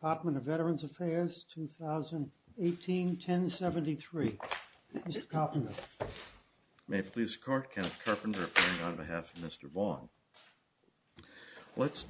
Department of Veterans Affairs 2018-1073. Mr. Carpenter. May it please the court, Kenneth Carpenter on behalf of Mr. Vaughn. Let's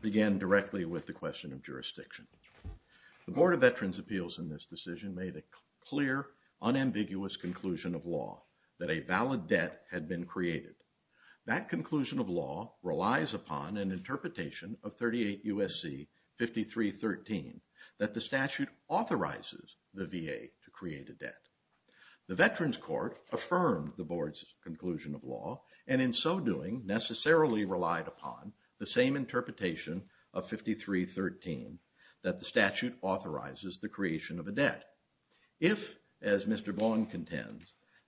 begin directly with the question of jurisdiction. The Board of Veterans Appeals in this decision made a clear unambiguous conclusion of law that a valid debt had been created. That that the statute authorizes the VA to create a debt. The Veterans Court affirmed the board's conclusion of law and in so doing necessarily relied upon the same interpretation of 5313 that the statute authorizes the creation of a debt. If, as Mr. Vaughn contends,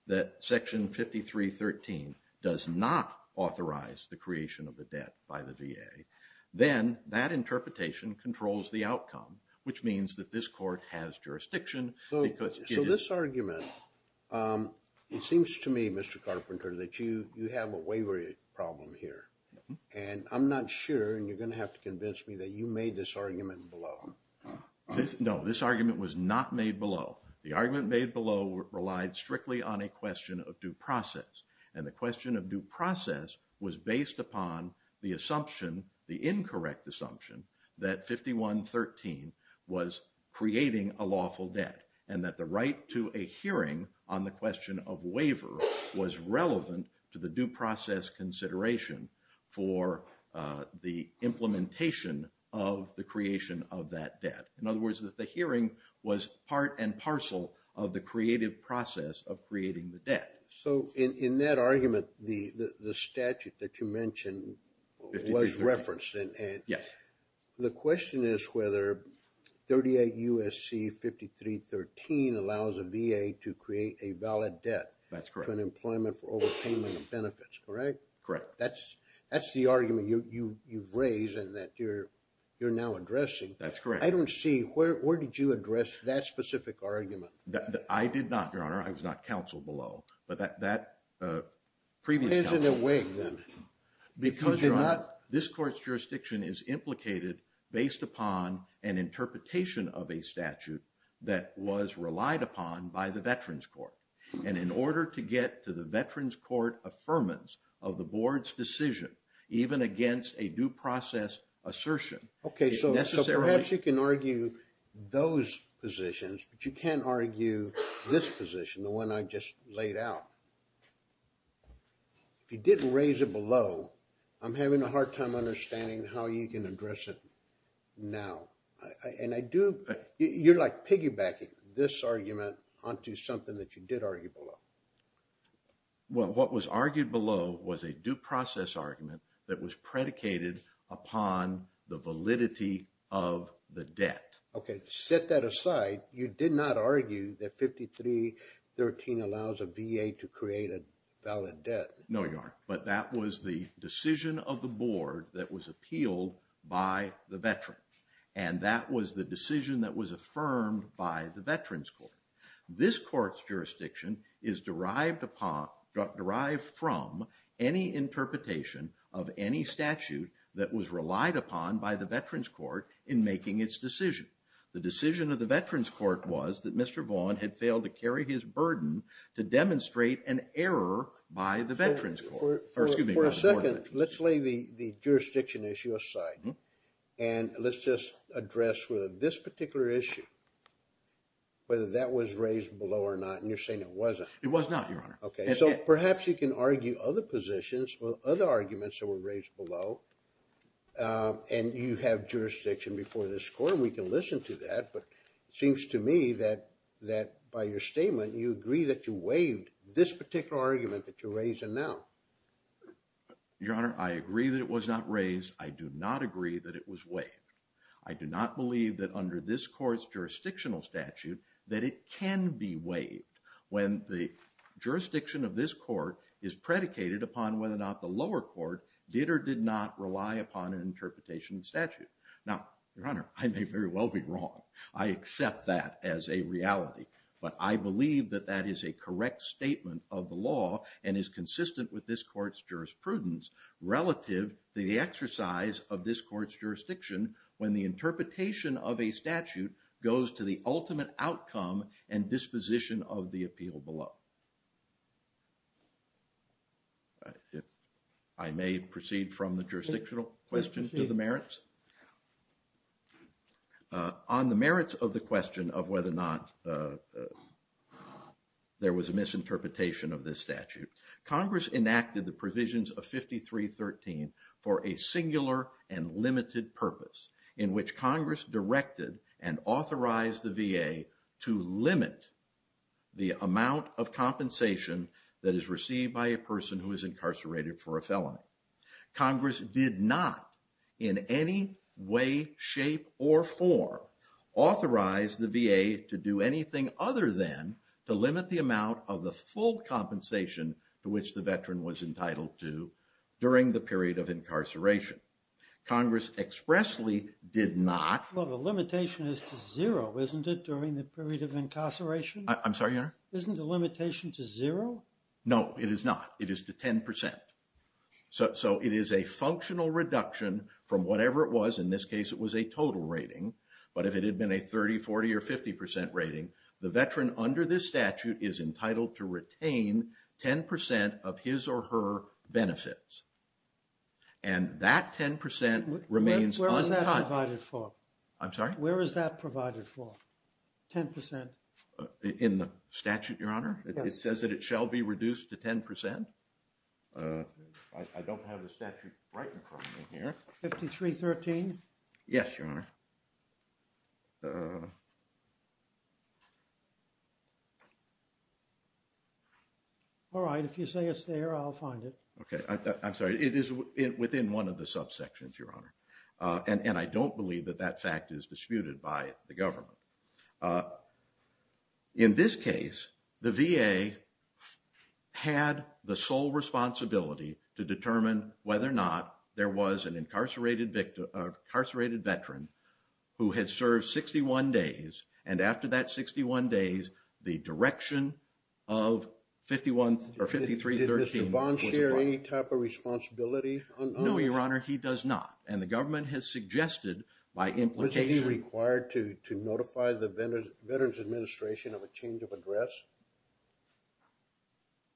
that section 5313 does not authorize the outcome which means that this court has jurisdiction. So this argument, it seems to me, Mr. Carpenter, that you you have a waiver problem here and I'm not sure and you're gonna have to convince me that you made this argument below. No, this argument was not made below. The argument made below relied strictly on a question of due process and the question of due process was based upon the assumption, the incorrect assumption, that 5113 was creating a lawful debt and that the right to a hearing on the question of waiver was relevant to the due process consideration for the implementation of the creation of that debt. In other words, that the hearing was part and parcel of the creative process of creating the debt. So in that argument, the statute that you mentioned was referenced. Yes. The question is whether 38 U.S.C. 5313 allows a VA to create a valid debt to an employment for overpayment of benefits, correct? Correct. That's the argument you've raised and that you're now addressing. That's correct. I don't see, where did you address that specific argument? I did not, your honor. I was not counseled below, but that previous counseled. Why isn't it waived then? Because your honor, this court's jurisdiction is implicated based upon an interpretation of a statute that was relied upon by the Veterans Court and in order to get to the Veterans Court affirmance of the board's decision even against a due process assertion. Okay, so perhaps you can argue those positions, but you can't argue this position, the one I just laid out. If you didn't raise it below, I'm having a hard time understanding how you can address it now. And I do, you're like piggybacking this argument onto something that you did argue below. Well, what was argued below was a due process argument that was You did not argue that 5313 allows a VA to create a valid debt. No, your honor, but that was the decision of the board that was appealed by the veteran and that was the decision that was affirmed by the Veterans Court. This court's jurisdiction is derived from any interpretation of any statute that was relied upon by the Veterans Court in making its decision. The decision of the Veterans Court was that Mr. Vaughn had failed to carry his burden to demonstrate an error by the Veterans Court. For a second, let's lay the jurisdiction issue aside and let's just address whether this particular issue, whether that was raised below or not, and you're saying it wasn't. It was not, your honor. Okay, so perhaps you can argue other positions or other arguments that were raised below and you have jurisdiction before this court. We can listen to that, but it seems to me that that by your statement you agree that you waived this particular argument that you're raising now. Your honor, I agree that it was not raised. I do not agree that it was waived. I do not believe that under this court's jurisdictional statute that it can be waived when the jurisdiction of this court is predicated upon whether or not the lower court did or did not rely upon an interpretation statute. Now, your honor, I may very well be wrong. I accept that as a reality, but I believe that that is a correct statement of the law and is consistent with this court's jurisprudence relative to the exercise of this court's the ultimate outcome and disposition of the appeal below. I may proceed from the jurisdictional questions to the merits. On the merits of the question of whether or not there was a misinterpretation of this statute, Congress enacted the provisions of 5313 for a singular and limited purpose in which Congress directed and authorized the VA to limit the amount of compensation that is received by a person who is incarcerated for a felony. Congress did not in any way, shape, or form authorize the VA to do anything other than to limit the amount of the full compensation to which the veteran was entitled to during the the limitation is to zero, isn't it, during the period of incarceration? I'm sorry, your honor? Isn't the limitation to zero? No, it is not. It is to 10%. So it is a functional reduction from whatever it was, in this case it was a total rating, but if it had been a 30, 40, or 50 percent rating, the veteran under this statute is entitled to retain 10% of his or her benefits. And that 10% remains Where is that provided for? I'm sorry? Where is that provided for? 10%? In the statute, your honor? It says that it shall be reduced to 10%. I don't have the statute right in front of me here. 5313? Yes, your honor. All right, if you say it's there, I'll find it. Okay, I'm sorry, it is within one of the subsections, your honor. And I don't believe that that fact is disputed by the government. In this case, the VA had the sole responsibility to determine whether or not there was an incarcerated veteran who had served 61 days, and after that 61 days, the direction of 5313... Did Mr. Vaughn share any type of responsibility? No, your honor, he does not, and the government has suggested by implication... Was he required to notify the Veterans Administration of a change of address?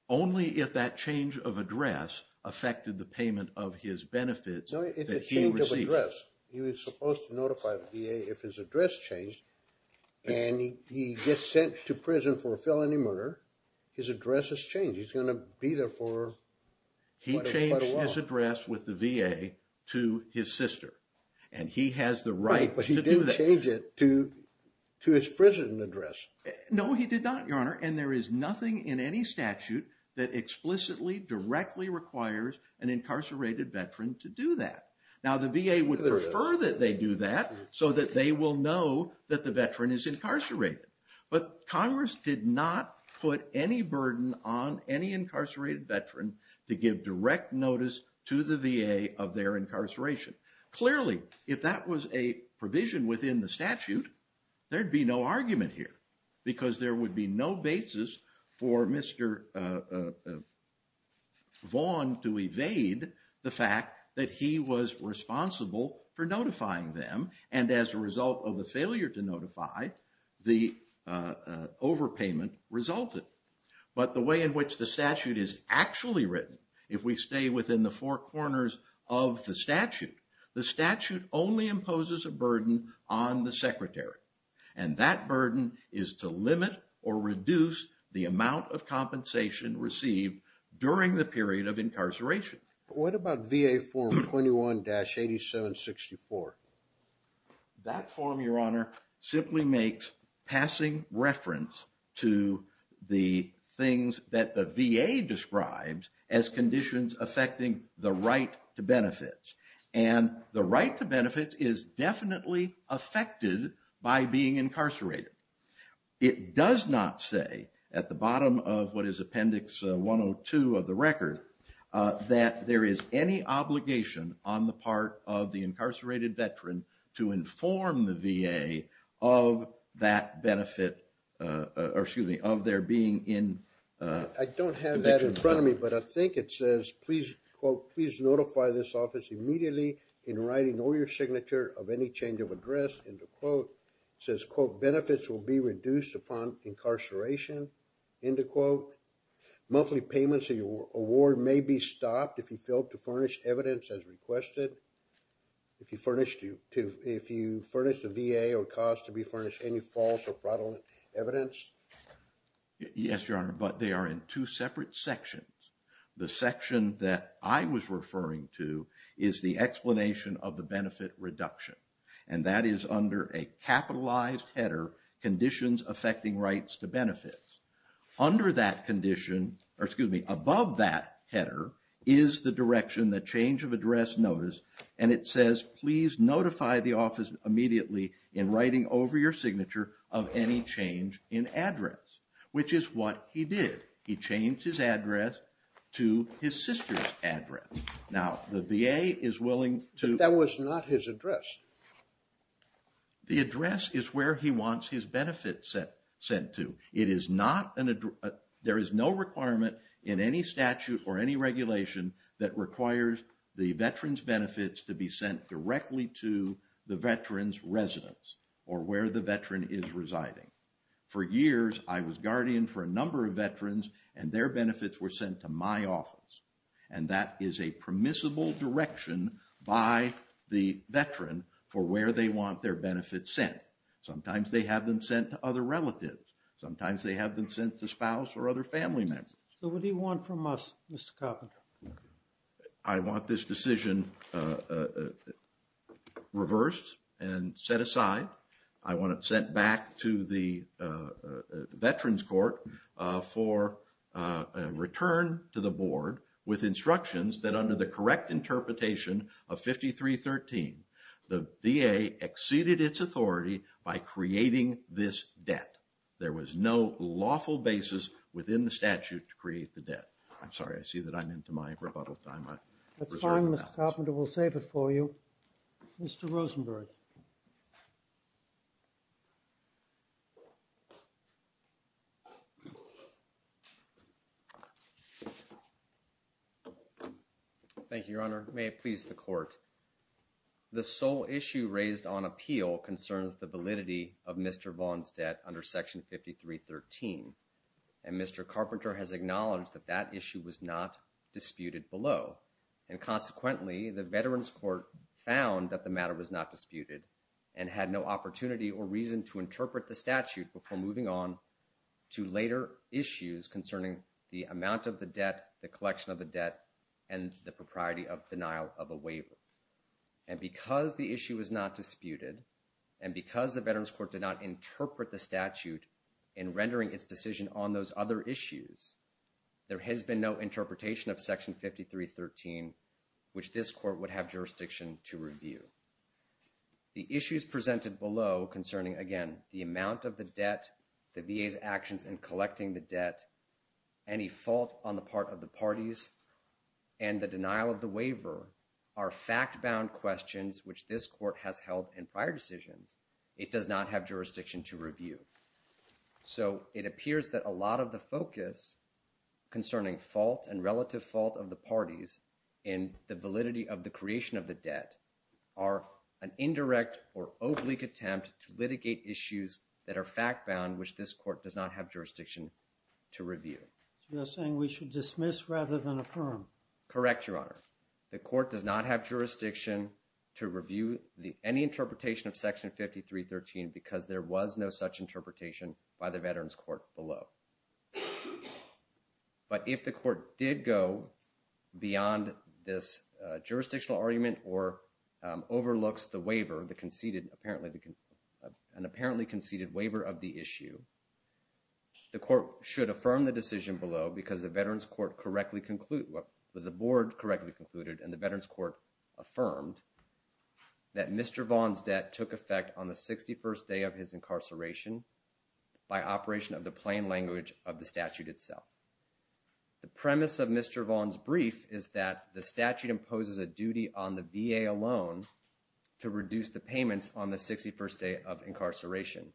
Only if that change of address affected the payment of his benefits that he received. No, it's a change of address. He was supposed to notify the VA if his address changed, and he gets sent to prison for a felony murder, his address has changed. He's going to be there for quite a while. He changed his address with the VA to his sister, and he has the right to do that. But he didn't change it to his prison address. No, he did not, your honor, and there is nothing in any statute that explicitly directly requires an incarcerated veteran to do that. Now, the VA would prefer that they do that so that they will know that the veteran is incarcerated, but Congress did not put any burden on any incarcerated veteran to give direct notice to the VA of their incarceration. Clearly, if that was a provision within the statute, there'd be no argument here because there would be no basis for Mr. Vaughn to evade the fact that he was responsible for notifying them, and as a result of the way in which the statute is actually written, if we stay within the four corners of the statute, the statute only imposes a burden on the secretary, and that burden is to limit or reduce the amount of compensation received during the period of incarceration. What about VA form 21-8764? That form, your honor, simply makes passing reference to the things that the VA describes as conditions affecting the right to benefits, and the right to benefits is definitely affected by being incarcerated. It does not say at the bottom of what is Appendix 102 of the record that there is any obligation on the part of the incarcerated veteran to inform the VA of that benefit, or excuse me, of their being in... I don't have that in front of me, but I think it says, please, quote, please notify this office immediately in writing or your signature of any change of address, end of quote. It says, quote, benefits will be reduced upon incarceration, end of quote. Monthly payments of your award may be stopped if you fail to furnish evidence as requested. If you furnish, if you furnish the VA or cause to be furnished any false or fraudulent evidence. Yes, your honor, but they are in two separate sections. The section that I was referring to is the explanation of the benefit reduction, and that is under a capitalized header, conditions affecting rights to benefits. Under that condition, or excuse me, above that header is the direction, the change of address notice, and it says, please notify the office immediately in writing over your signature of any change in address, which is what he did. He changed his address to his sister's address. Now, the VA is willing to... That was not his address. The address is where he wants his benefits sent to. It is not an... There is no requirement in any statute or any regulation that requires the veteran's benefits to be sent directly to the veteran's residence, or where the veteran is residing. For years, I was guardian for a number of veterans, and their benefits were sent to my office, and that is a permissible direction by the veteran for where they want their benefits sent. Sometimes, they have them sent to other relatives. Sometimes, they have them sent to spouse or other family members. So, what do you want from us, Mr. Carpenter? I want this decision reversed and set aside. I want it sent back to the veterans court for a return to the board with instructions that under the correct interpretation of 5313, the VA exceeded its authority by creating this debt. There was no lawful basis within the statute to create the debt. I'm sorry, I see that I'm into my rebuttal time. That's fine, Mr. Carpenter. We'll save it for you. Mr. Rosenberg. Thank you, Your Honor. May it please the court. The sole issue raised on appeal concerns the validity of Mr. Vaughn's debt under Section 5313, and Mr. Carpenter has acknowledged that that issue was not disputed below, and had no opportunity or reason to interpret the statute before moving on to later issues concerning the amount of the debt, the collection of the debt, and the propriety of denial of a waiver. And because the issue is not disputed, and because the veterans court did not interpret the statute in rendering its decision on those other issues, there has been no interpretation of Section 5313, which this court would have jurisdiction to review. The issues presented below concerning, again, the amount of the debt, the VA's actions in collecting the debt, any fault on the part of the parties, and the denial of the waiver are fact-bound questions which this court has held in prior decisions. It does not have jurisdiction to review. So it appears that a lot of the focus concerning fault and relative fault of the parties in the validity of the creation of the debt are an indirect or oblique attempt to litigate issues that are fact-bound which this court does not have jurisdiction to review. You're saying we should dismiss rather than affirm? Correct, Your Honor. The court does not have jurisdiction to review any interpretation of Section 5313 because there was no such interpretation by the veterans court below. But if the court did go beyond this jurisdictional argument or overlooks the waiver, the conceded, apparently, an apparently conceded waiver of the issue, the court should affirm the decision below because the veterans court correctly conclude, the board correctly concluded, and the veterans court affirmed that Mr. Vaughn's debt took effect on the 61st day of his incarceration by operation of the plain language of the statute itself. The premise of Mr. Vaughn's brief is that the statute imposes a duty on the VA alone to reduce the payments on the 61st day of incarceration.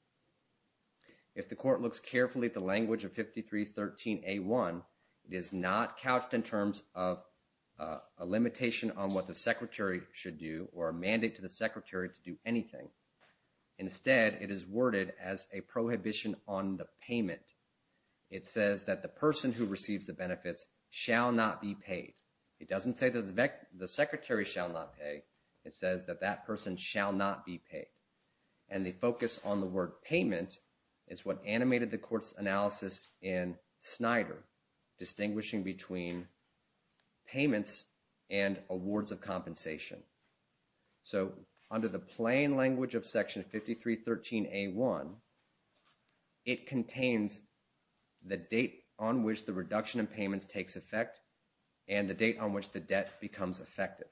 If the court looks carefully at the language of 5313a1, it is not couched in terms of a limitation on what the secretary should do or a mandate to the secretary to do anything. Instead, it is worded as a prohibition on the payment. It says that the person who receives the benefits shall not be paid. It doesn't say that the secretary shall not pay. It says that that person shall not be paid. And the focus on the word payment is what animated the court's analysis in Snyder, distinguishing between payments and debt. So under the plain language of section 5313a1, it contains the date on which the reduction in payments takes effect and the date on which the debt becomes effective.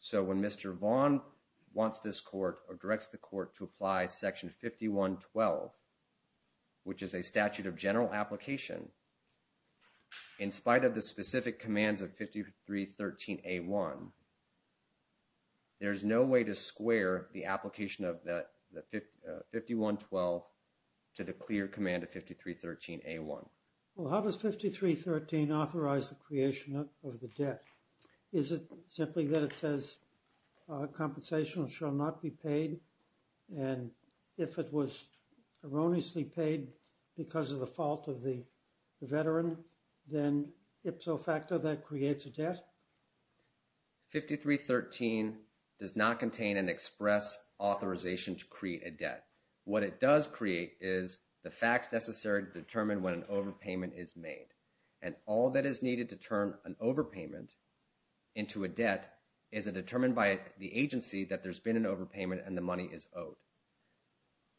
So when Mr. Vaughn wants this court or directs the court to apply section 5112, which is a statute of general application, in spite of the there's no way to square the application of that 5112 to the clear command of 5313a1. Well, how does 5313 authorize the creation of the debt? Is it simply that it says compensation shall not be paid? And if it was erroneously paid because of the fault of the veteran, then ipso facto that creates a debt? 5313 does not contain an express authorization to create a debt. What it does create is the facts necessary to determine when an overpayment is made. And all that is needed to turn an overpayment into a debt is a determined by the agency that there's been an overpayment and the money is owed.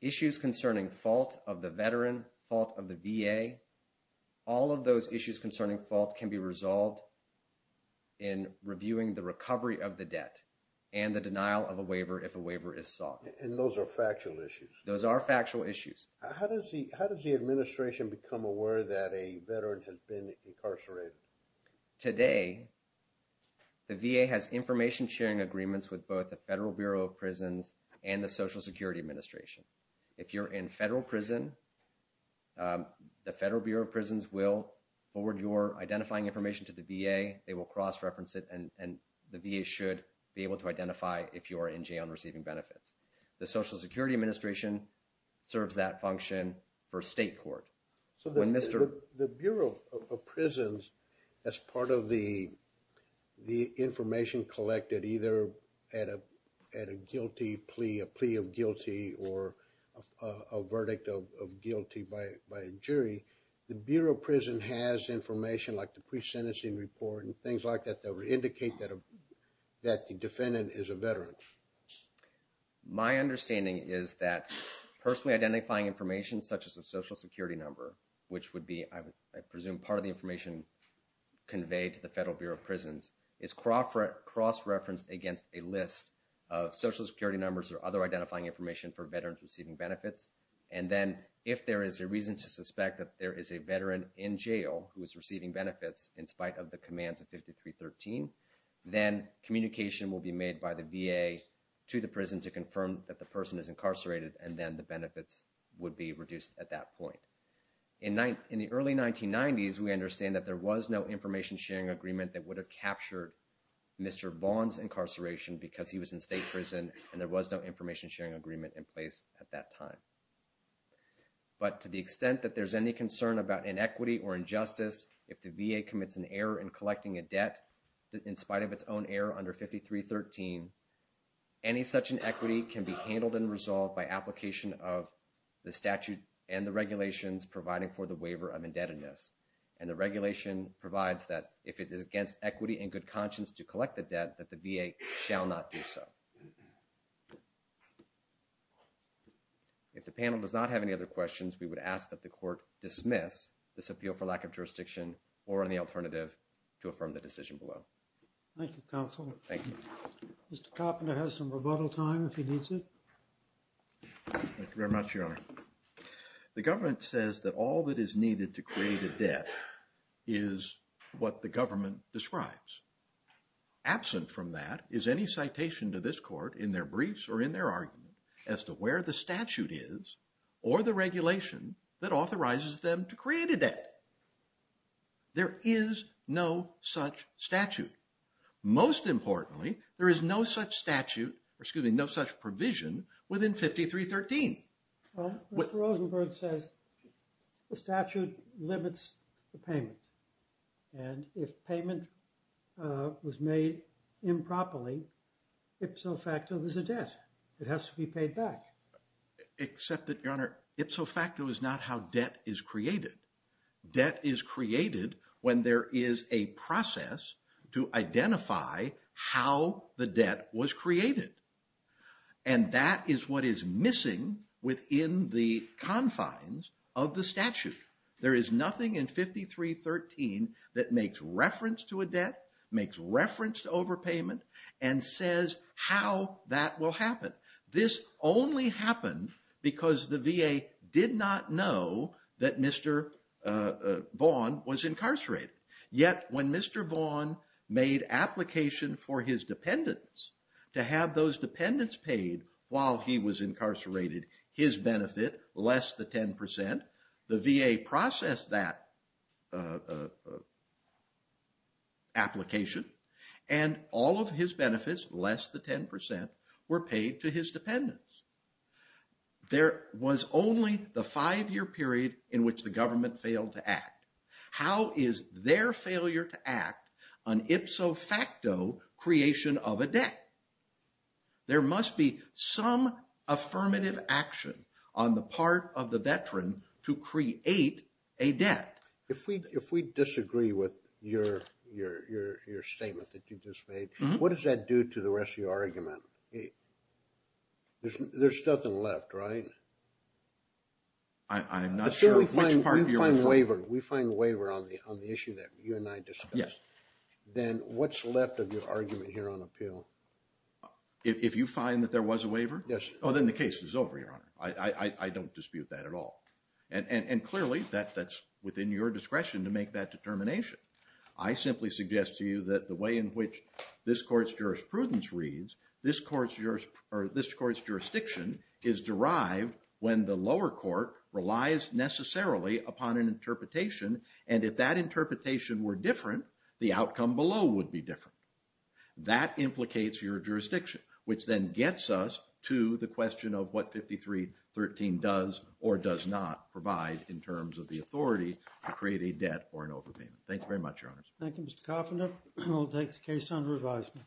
Issues concerning fault of the veteran, fault of the VA, all of those issues concerning fault can be resolved in reviewing the recovery of the debt and the denial of a waiver if a waiver is sought. And those are factual issues? Those are factual issues. How does the administration become aware that a veteran has been incarcerated? Today, the VA has information sharing agreements with both the Federal Bureau of Prisons and the Social Security Administration. If you're in federal prison, the Federal Bureau of Prisons will forward your identifying information to the VA. They will cross-reference it and the VA should be able to identify if you are in jail and receiving benefits. The Social Security Administration serves that function for state court. So the Bureau of Prisons, as part of the information collected either at a guilty plea, a plea of a verdict of guilty by a jury, the Bureau of Prisons has information like the pre-sentencing report and things like that that would indicate that the defendant is a veteran. My understanding is that personally identifying information such as a Social Security number, which would be, I presume, part of the information conveyed to the Federal Bureau of Prisons, is cross-referenced against a list of Social Security numbers or other identifying information for veterans receiving benefits. And then if there is a reason to suspect that there is a veteran in jail who is receiving benefits in spite of the commands of 5313, then communication will be made by the VA to the prison to confirm that the person is incarcerated and then the benefits would be reduced at that point. In the early 1990s, we understand that there was no information sharing agreement that would have captured Mr. Vaughn's incarceration because he was in state prison and there was no information sharing agreement in place at that time. But to the extent that there's any concern about inequity or injustice, if the VA commits an error in collecting a debt in spite of its own error under 5313, any such inequity can be handled and resolved by application of the statute and the regulations providing for the waiver of indebtedness. And the regulation provides that if it is against equity and good conscience to If the panel does not have any other questions, we would ask that the court dismiss this appeal for lack of jurisdiction or any alternative to affirm the decision below. Thank you, counsel. Thank you. Mr. Coppola has some rebuttal time if he needs it. Thank you very much, Your Honor. The government says that all that is needed to create a debt is what the government describes. Absent from that is any citation to this court in their the statute is or the regulation that authorizes them to create a debt. There is no such statute. Most importantly, there is no such statute, or excuse me, no such provision within 5313. Well, Mr. Rosenberg says the statute limits the payment. And if payment was made improperly, ipso facto there's a debt. It has to be paid back. Except that, Your Honor, ipso facto is not how debt is created. Debt is created when there is a process to identify how the debt was created. And that is what is missing within the confines of the statute. There is nothing in 5313 that makes reference to a debt, makes reference to This only happened because the VA did not know that Mr. Vaughn was incarcerated. Yet when Mr. Vaughn made application for his dependents, to have those dependents paid while he was incarcerated, his benefit less than 10%, the VA processed that application, and all of his benefits less than 10% were paid to his dependents. There was only the five-year period in which the government failed to act. How is their failure to act an ipso facto creation of a debt? There must be some affirmative action on the part of the veteran to create a debt. If we disagree with your statement that you just made, what does that do to the rest of your argument? There's nothing left, right? I'm not sure which part of your argument. We find waiver on the issue that you and I discussed. Then what's left of your argument here on appeal? If you find that there was a waiver? Yes. Then the case is over, Your Honor. I don't dispute that at all. Clearly, that's within your discretion to make that determination. I simply suggest to you that the way in which this court's jurisprudence reads, this court's jurisdiction is derived when the lower court relies necessarily upon an interpretation. If that interpretation were different, the outcome below would be different. That implicates your jurisdiction, which then gets us to the question of what 5313 does or does not provide in terms of the authority to create a debt or an overpayment. Thank you very much, Your Honors. Thank you, Mr. Coffin. We'll take the case under advisement. Thank you.